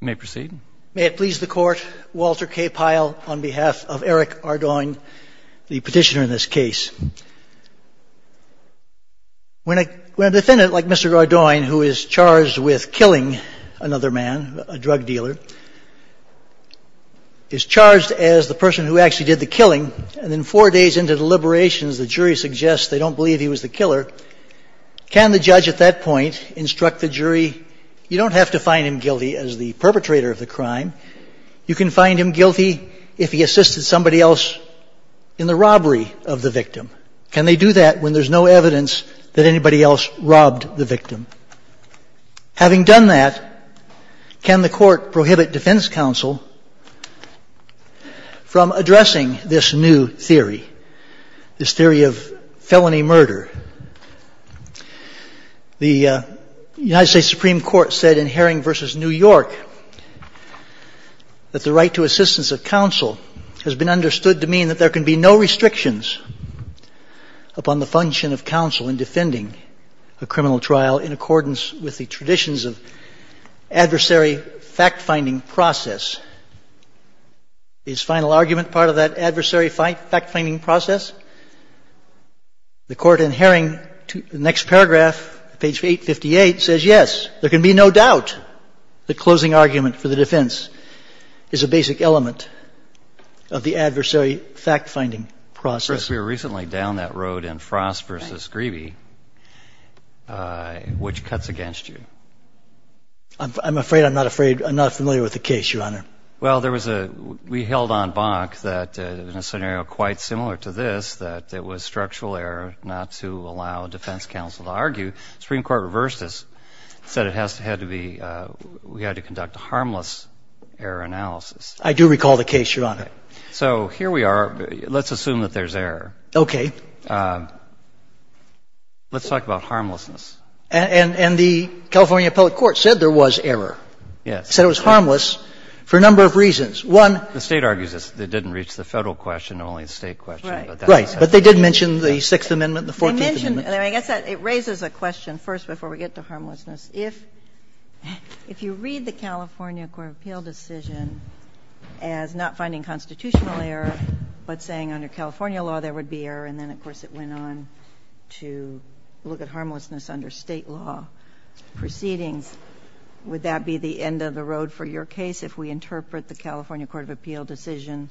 May it please the Court, Walter K. Pyle on behalf of Eric Ardoin, the petitioner in this case. When a defendant like Mr. Ardoin, who is charged with killing another man, a drug dealer, is charged as the person who actually did the killing, and then four days into the liberations the jury suggests they don't believe he was the killer, can the judge at that point instruct the jury, you don't have to find him guilty as the perpetrator of the crime. You can find him guilty if he assisted somebody else in the robbery of the victim. Can they do that when there's no evidence that anybody else robbed the victim? Having done that, can the Court prohibit defense counsel from addressing this new theory, this theory of the United States Supreme Court said in Herring v. New York that the right to assistance of counsel has been understood to mean that there can be no restrictions upon the function of counsel in defending a criminal trial in accordance with the traditions of adversary fact-finding process. Is final argument part of that adversary fact-finding process? The Court in Herring, the next paragraph, page 858, says, yes, there can be no doubt that closing argument for the defense is a basic element of the adversary fact-finding process. First, we were recently down that road in Frost v. Grebe, which cuts against you. I'm afraid, I'm not afraid, I'm not familiar with the case, Your Honor. Well, there was a, we held on bonk that in a scenario quite similar to this, that it was structural error not to allow defense counsel to argue. Supreme Court reversed this, said it has to, had to be, we had to conduct a harmless error analysis. I do recall the case, Your Honor. So here we are. Let's assume that there's error. Okay. Let's talk about harmlessness. And the California public court said there was error. Yes. They said it was harmless for a number of reasons. One. The State argues it didn't reach the Federal question, only the State question. Right. But they did mention the Sixth Amendment and the Fourteenth Amendment. They mentioned, I guess it raises a question first before we get to harmlessness. If you read the California Court of Appeal decision as not finding constitutional error, but saying under California law there would be error, and then, of course, it went on to look at harmlessness under State law proceedings, would that be the end of the road for your case if we interpret the California Court of Appeal decision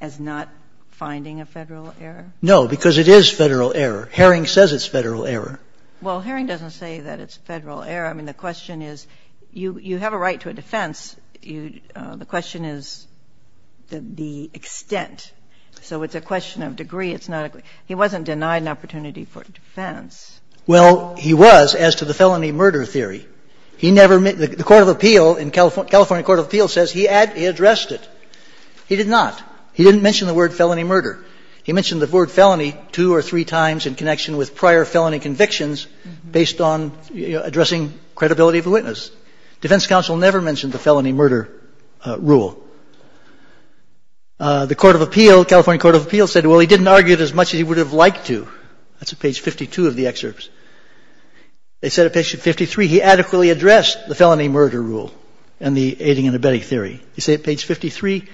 as not finding a Federal error? No, because it is Federal error. Herring says it's Federal error. Well, Herring doesn't say that it's Federal error. I mean, the question is, you have a right to a defense. The question is the extent. So it's a question of degree. It's not a question of degree. He wasn't denied an opportunity for defense. Well, he was as to the felony murder theory. The California Court of Appeal says he addressed it. He did not. He didn't mention the word felony murder. He mentioned the word felony two or three times in connection with prior felony convictions based on addressing credibility of the witness. Defense counsel never mentioned the felony murder rule. The California Court of Appeal said, well, he didn't argue it as much as he would have liked to. That's at page 52 of the excerpts. It's at page 53. He adequately addressed the felony murder rule and the aiding and abetting theory. It's at page 53.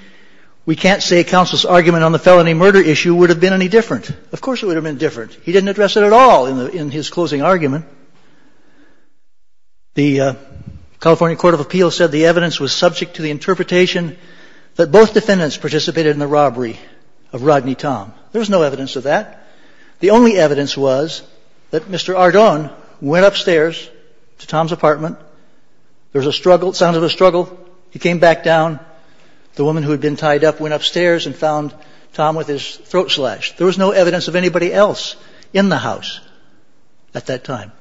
We can't say counsel's argument on the felony murder issue would have been any different. Of course it would have been different. He didn't address it at all in his closing argument. The California Court of Appeal said the evidence was subject to the interpretation that both defendants participated in the robbery of Rodney Tom. There was no evidence of that. The only evidence was that Mr. Ardon went upstairs to Tom's apartment. There was a struggle. It sounded like a struggle. He came back down. The woman who had been tied up went upstairs and found Tom with his throat slashed. There was no evidence of anybody else in the house at that time.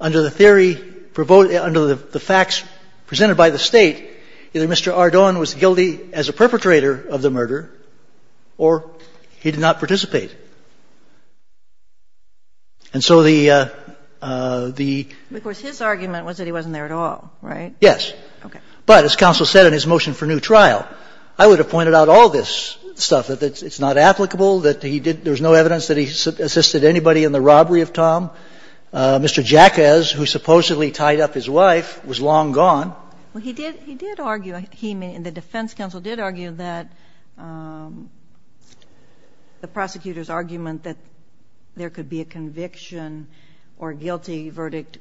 Under the facts presented by the state, either Mr. Ardon was guilty as a perpetrator of the murder or he did not participate. And so the the. Of course, his argument was that he wasn't there at all, right? Yes. Okay. But as counsel said in his motion for new trial, I would have pointed out all this stuff, that it's not applicable, that he did no evidence that he assisted anybody in the robbery of Tom. Mr. Jacquez, who supposedly tied up his wife, was long gone. Well, he did argue, he and the defense counsel did argue that the prosecutor's argument that there could be a conviction or guilty verdict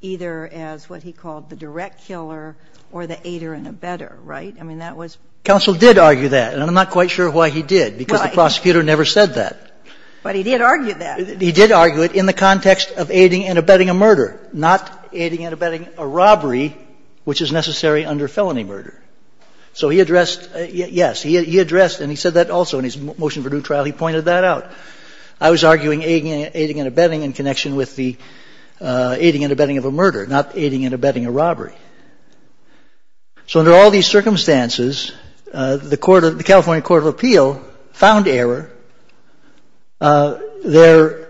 either as what he called the direct killer or the aider and abetter, right? I mean, that was. Counsel did argue that, and I'm not quite sure why he did, because the prosecutor never said that. But he did argue that. He did argue it in the context of aiding and abetting a murder, not aiding and abetting a robbery, which is necessary under felony murder. So he addressed, yes, he addressed, and he said that also in his motion for new trial, he pointed that out. I was arguing aiding and abetting in connection with the aiding and abetting of a murder, not aiding and abetting a robbery. So under all these circumstances, the court of, the California Court of Appeal found error. Their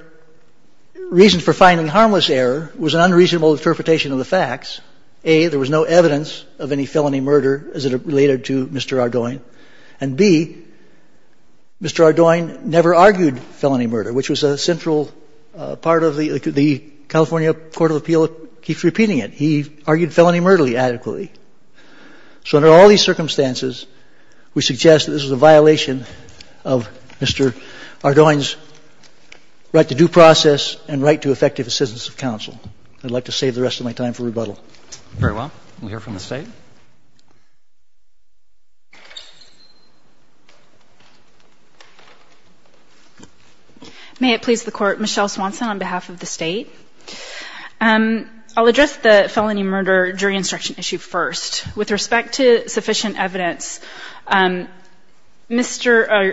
reason for finding harmless error was an unreasonable interpretation of the facts. A, there was no evidence of any felony murder as it related to Mr. Ardoin. And B, Mr. Ardoin never argued felony murder, which was a central part of the, the California Court of Appeal keeps repeating it. He argued felony murder adequately. So under all these circumstances, we suggest that this was a violation of Mr. Ardoin's right to due process and right to effective assistance of counsel. I'd like to save the rest of my time for rebuttal. Very well. We'll hear from the State. May it please the Court. Michelle Swanson on behalf of the State. I'll address the felony murder jury instruction issue first. With respect to sufficient evidence, Mr.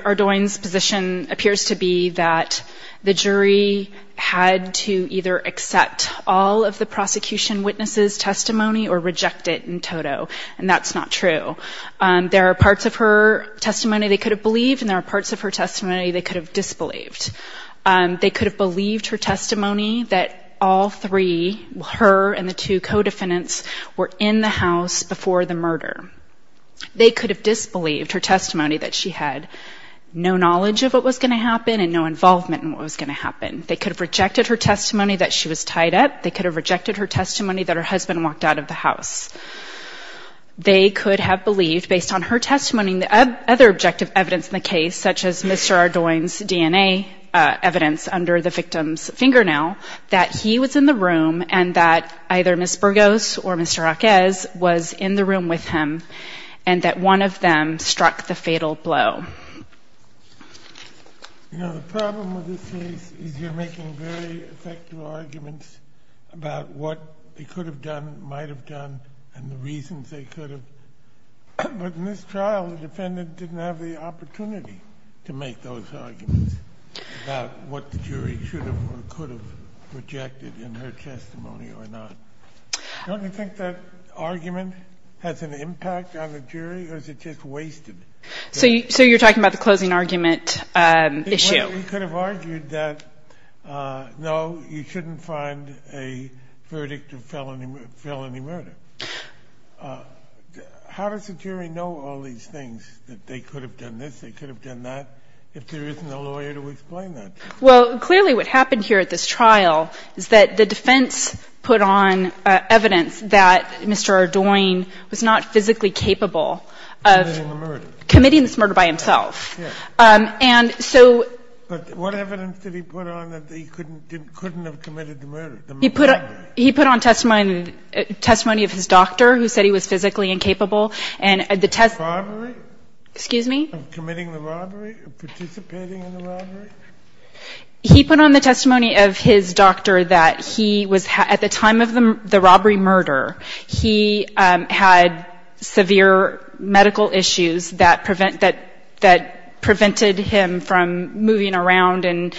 Ardoin's position appears to be that the jury had to either accept all of the prosecution witness's testimony or reject it in toto. And that's not true. There are parts of her testimony they could have believed and there are parts of her testimony they could have disbelieved. They could have believed her testimony that all three, her and the two co-defendants were in the house before the murder. They could have disbelieved her testimony that she had no knowledge of what was going to happen and no involvement in what was going to happen. They could have rejected her testimony that she was tied up. They could have rejected her testimony that her husband walked out of the house. They could have believed, based on her testimony and the other objective evidence in the case, which was Mr. Ardoin's DNA evidence under the victim's fingernail, that he was in the room and that either Ms. Burgos or Mr. Raquez was in the room with him and that one of them struck the fatal blow. You know, the problem with this case is you're making very effective arguments about what they could have done, might have done, and the reasons they could have. But in this trial, the defendant didn't have the opportunity to make those arguments about what the jury should have or could have rejected in her testimony or not. Don't you think that argument has an impact on the jury or is it just wasted? So you're talking about the closing argument issue? You could have argued that, no, you shouldn't find a verdict of felony murder. How does the jury know all these things, that they could have done this, they could have done that, if there isn't a lawyer to explain that? Well, clearly what happened here at this trial is that the defense put on evidence that Mr. Ardoin was not physically capable of committing this murder by himself. And so But what evidence did he put on that he couldn't have committed the murder? He put on testimony of his doctor, who said he was physically incapable. And the test Robbery? Excuse me? Of committing the robbery, of participating in the robbery? He put on the testimony of his doctor that he was, at the time of the robbery murder, he had severe medical issues that prevented him from moving around and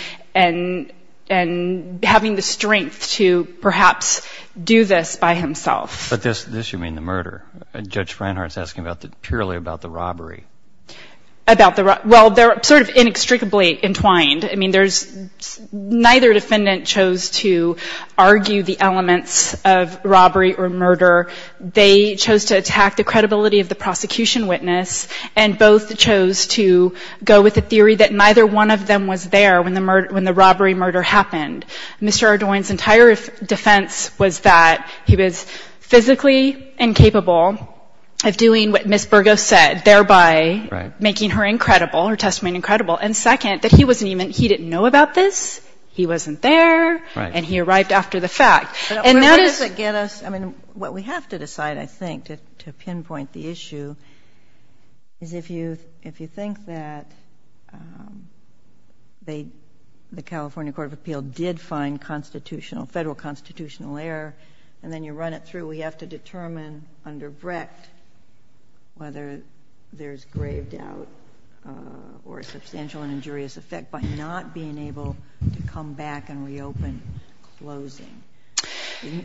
having the strength to perhaps do this by himself. But this you mean the murder? Judge Reinhart's asking purely about the robbery. Well, they're sort of inextricably entwined. I mean, neither defendant chose to argue the elements of robbery or murder. They chose to attack the credibility of the prosecution witness. And both chose to go with the theory that neither one of them was there when the robbery murder happened. Mr. Ardoin's entire defense was that he was physically incapable of doing what Ms. Burgo said, thereby making her incredible, her testimony incredible. And second, that he wasn't even, he didn't know about this. He wasn't there. Right. And he arrived after the fact. And that is But what does it get us, I mean, what we have to decide, I think, to pinpoint the issue is if you think that the California Court of Appeal did find constitutional, federal constitutional error, and then you run it through, we have to determine under Brecht whether there's grave doubt or a substantial and injurious effect by not being able to come back and reopen closing.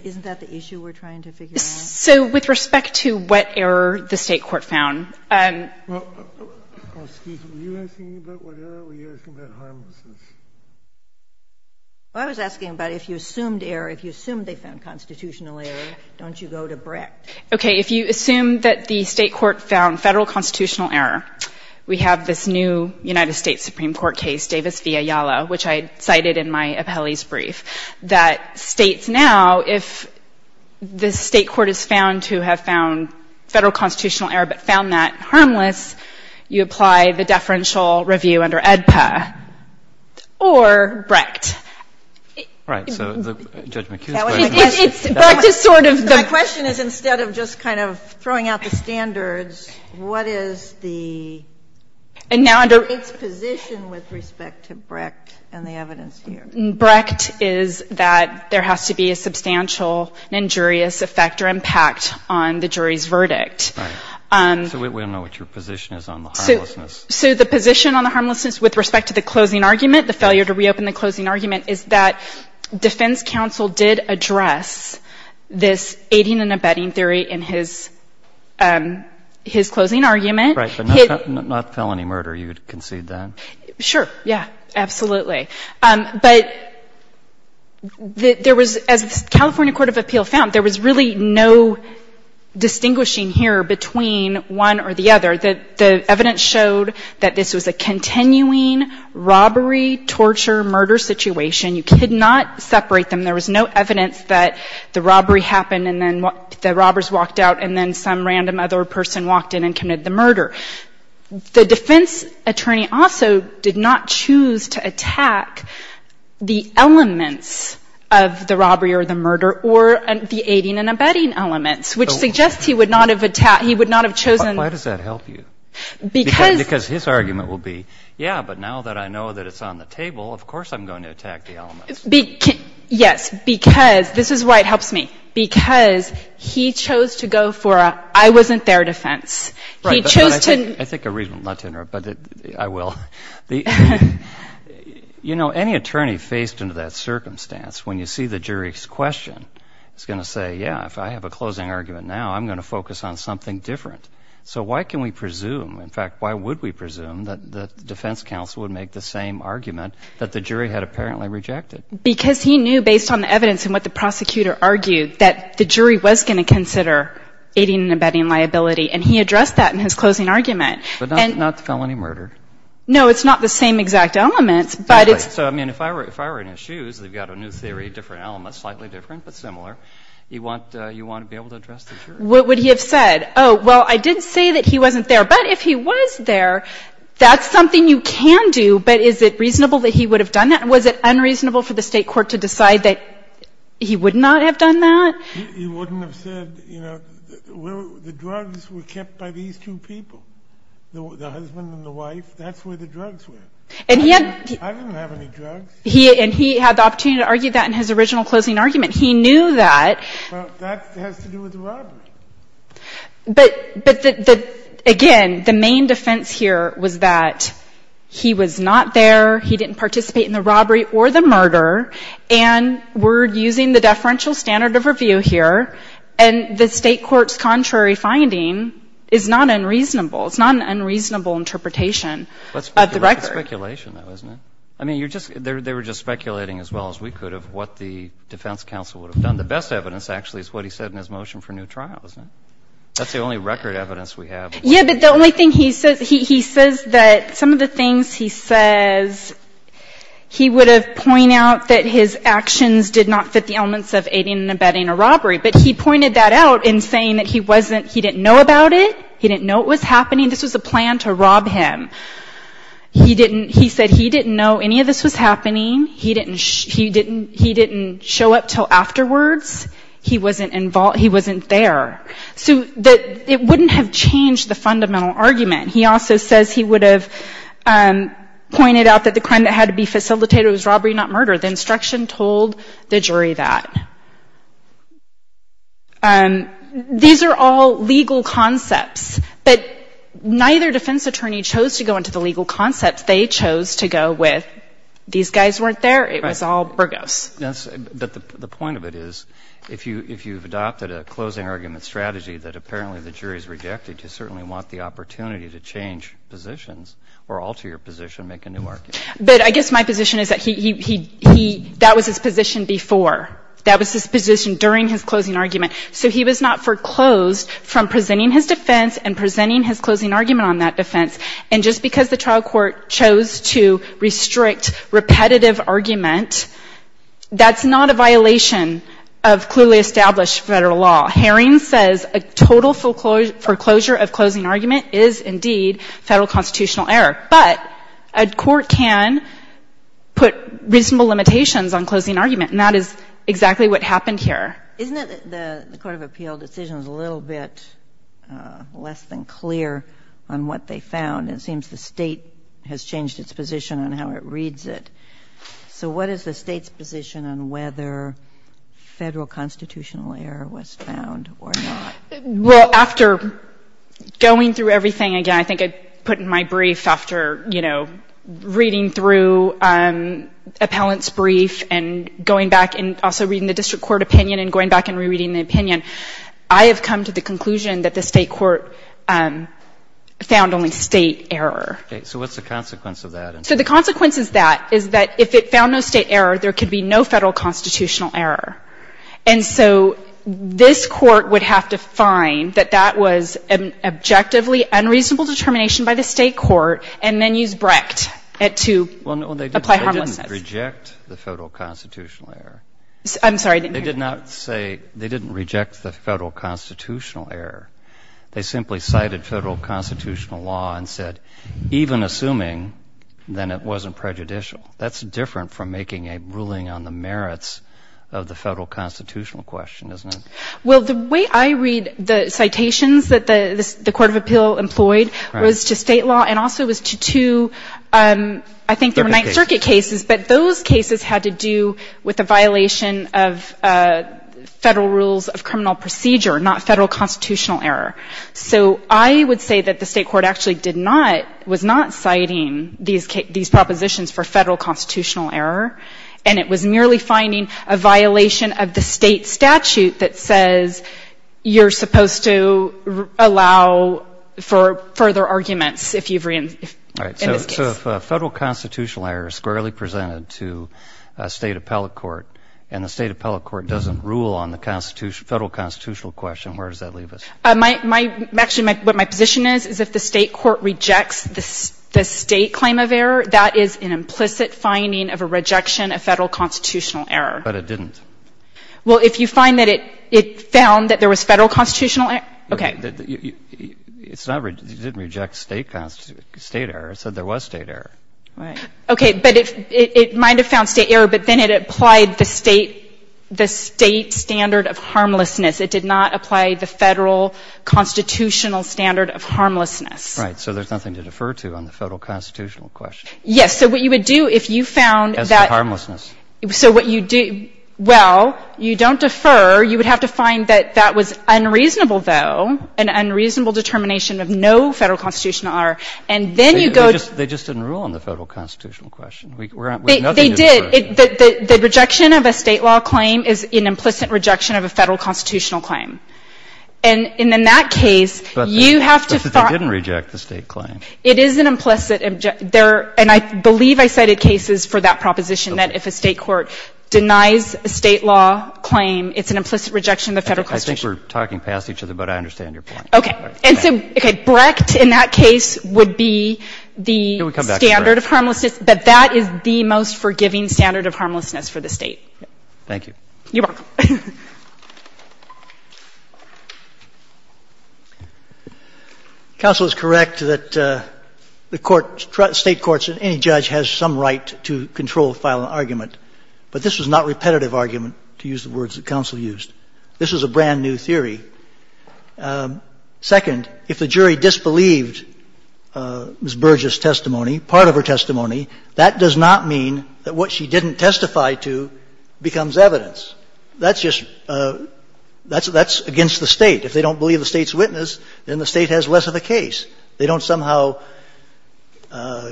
Isn't that the issue we're trying to figure out? So with respect to what error the State Court found Well, excuse me, were you asking me about what error? Were you asking about harmlessness? Well, I was asking about if you assumed error, if you assumed they found constitutional error, don't you go to Brecht? Okay. If you assume that the State Court found federal constitutional error, we have this new United States Supreme Court case, Davis v. Ayala, which I cited in my appellee's And now if the State Court is found to have found federal constitutional error but found that harmless, you apply the deferential review under AEDPA or Brecht. Right. So Judge McHugh's question Brecht is sort of My question is instead of just kind of throwing out the standards, what is the State's position with respect to Brecht and the evidence here? Brecht is that there has to be a substantial and injurious effect or impact on the jury's verdict. Right. So we don't know what your position is on the harmlessness. So the position on the harmlessness with respect to the closing argument, the failure to reopen the closing argument, is that defense counsel did address this aiding and abetting theory in his closing argument. Right. But not felony murder. You would concede that. Sure. Yeah. Absolutely. But there was, as the California Court of Appeal found, there was really no distinguishing here between one or the other. The evidence showed that this was a continuing robbery, torture, murder situation. You could not separate them. There was no evidence that the robbery happened and then the robbers walked out and then some random other person walked in and committed the murder. The defense attorney also did not choose to attack the elements of the robbery or the murder or the aiding and abetting elements, which suggests he would not have attacked, he would not have chosen. Why does that help you? Because. Because his argument will be, yeah, but now that I know that it's on the table, of course I'm going to attack the elements. Yes, because, this is why it helps me, because he chose to go for a I wasn't there defense. He chose to. I think a reason not to interrupt, but I will. You know, any attorney faced into that circumstance, when you see the jury's question, is going to say, yeah, if I have a closing argument now, I'm going to focus on something different. So why can we presume, in fact, why would we presume that the defense counsel would make the same argument that the jury had apparently rejected? Because he knew, based on the evidence and what the prosecutor argued, that the jury was going to consider aiding and abetting liability, and he addressed that in his closing argument. But not the felony murder. No, it's not the same exact elements, but it's. Exactly. So, I mean, if I were in his shoes, they've got a new theory, different elements, slightly different, but similar. You want to be able to address the jury. What would he have said? Oh, well, I did say that he wasn't there. But if he was there, that's something you can do, but is it reasonable that he would have done that? Was it unreasonable for the State court to decide that he would not have done that? He wouldn't have said, you know, the drugs were kept by these two people, the husband and the wife. That's where the drugs were. I didn't have any drugs. And he had the opportunity to argue that in his original closing argument. He knew that. Well, that has to do with the robbery. But, again, the main defense here was that he was not there, he didn't participate in the robbery or the murder, and we're using the deferential standard of review here, and the State court's contrary finding is not unreasonable. It's not an unreasonable interpretation of the record. That's speculation, though, isn't it? I mean, you're just they were just speculating as well as we could of what the defense counsel would have done. The best evidence, actually, is what he said in his motion for new trial, isn't it? That's the only record evidence we have. Yeah, but the only thing he says, he says that some of the things he says, he would have pointed out that his actions did not fit the elements of aiding and abetting a robbery. But he pointed that out in saying that he wasn't, he didn't know about it, he didn't know it was happening. This was a plan to rob him. He didn't, he said he didn't know any of this was happening. He didn't show up until afterwards. He wasn't involved, he wasn't there. So it wouldn't have changed the fundamental argument. He also says he would have pointed out that the crime that had to be facilitated was robbery, not murder. The instruction told the jury that. These are all legal concepts. But neither defense attorney chose to go into the legal concepts. They chose to go with these guys weren't there, it was all burgos. But the point of it is, if you've adopted a closing argument strategy that apparently the jury has rejected, you certainly want the opportunity to change positions or alter your position, make a new argument. But I guess my position is that he, that was his position before. That was his position during his closing argument. So he was not foreclosed from presenting his defense and presenting his closing argument on that defense. And just because the trial court chose to restrict repetitive argument, that's not a violation of clearly established federal law. Haring says a total foreclosure of closing argument is, indeed, federal constitutional error. But a court can put reasonable limitations on closing argument, and that is exactly what happened here. Isn't it that the Court of Appeal decision is a little bit less than clear on what they found? It seems the State has changed its position on how it reads it. So what is the State's position on whether federal constitutional error was found or not? Well, after going through everything again, I think I put in my brief after, you know, reading through appellant's brief and going back and also reading the opinion, I have come to the conclusion that the State court found only State error. Okay. So what's the consequence of that? So the consequence of that is that if it found no State error, there could be no federal constitutional error. And so this Court would have to find that that was an objectively unreasonable determination by the State court and then use Brecht to apply harmlessness. Well, they didn't reject the federal constitutional error. I'm sorry. They did not say they didn't reject the federal constitutional error. They simply cited federal constitutional law and said even assuming then it wasn't prejudicial. That's different from making a ruling on the merits of the federal constitutional question, isn't it? Well, the way I read the citations that the Court of Appeal employed was to State law and also was to two, I think they were Ninth Circuit cases, but those cases had to do with a violation of federal rules of criminal procedure, not federal constitutional error. So I would say that the State court actually did not, was not citing these propositions for federal constitutional error, and it was merely finding a violation of the State statute that says you're supposed to allow for further arguments if you've reentered in this case. If federal constitutional error is squarely presented to a State appellate court and the State appellate court doesn't rule on the federal constitutional question, where does that leave us? Actually, what my position is, is if the State court rejects the State claim of error, that is an implicit finding of a rejection of federal constitutional error. But it didn't. Well, if you find that it found that there was federal constitutional error, okay. It didn't reject State constitutional error. It said there was State error. Right. Okay. But it might have found State error, but then it applied the State standard of harmlessness. It did not apply the federal constitutional standard of harmlessness. Right. So there's nothing to defer to on the federal constitutional question. Yes. So what you would do if you found that. As for harmlessness. So what you do, well, you don't defer. You would have to find that that was unreasonable, though. An unreasonable determination of no federal constitutional error. And then you go to. They just didn't rule on the federal constitutional question. They did. The rejection of a State law claim is an implicit rejection of a federal constitutional claim. And in that case, you have to. But they didn't reject the State claim. It is an implicit. And I believe I cited cases for that proposition, that if a State court denies a State law claim, it's an implicit rejection of the federal constitutional claim. I think we're talking past each other, but I understand your point. And so, okay. Brecht, in that case, would be the standard of harmlessness. Can we come back to Brecht? But that is the most forgiving standard of harmlessness for the State. Thank you. You're welcome. Counsel is correct that the court, State courts, any judge has some right to control a filing argument. But this was not repetitive argument, to use the words that counsel used. This was a brand-new theory. Second, if the jury disbelieved Ms. Burgess' testimony, part of her testimony, that does not mean that what she didn't testify to becomes evidence. That's just – that's against the State. If they don't believe the State's witness, then the State has less of a case. They don't somehow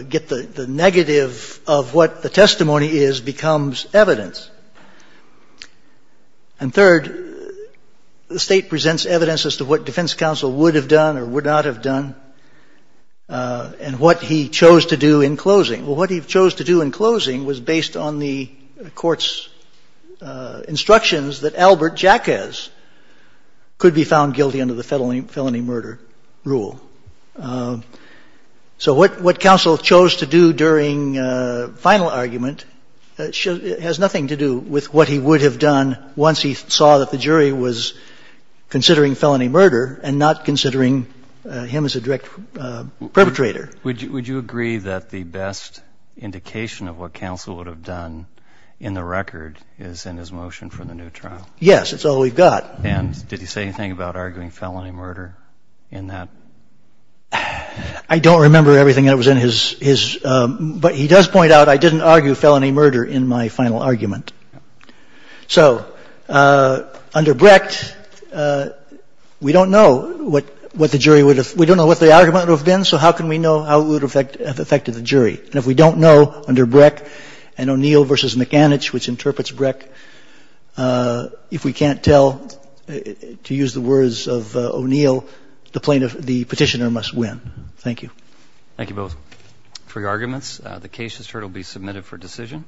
get the negative of what the testimony is becomes evidence. And third, the State presents evidence as to what defense counsel would have done or would not have done and what he chose to do in closing. Well, what he chose to do in closing was based on the court's instructions that Albert Jacquez could be found guilty under the felony murder rule. So what counsel chose to do during final argument has nothing to do with what he would have done once he saw that the jury was considering felony murder and not considering him as a direct perpetrator. Would you agree that the best indication of what counsel would have done in the record is in his motion for the new trial? Yes, it's all we've got. And did he say anything about arguing felony murder in that? I don't remember everything that was in his – but he does point out I didn't argue felony murder in my final argument. So under Brecht, we don't know what the jury would have – we don't know what the argument would have been, so how can we know how it would have affected the jury? And if we don't know under Brecht and O'Neill versus McAnich, which interprets Brecht, if we can't tell, to use the words of O'Neill, the petitioner must win. Thank you. Thank you both. Free arguments. The case has heard will be submitted for decision.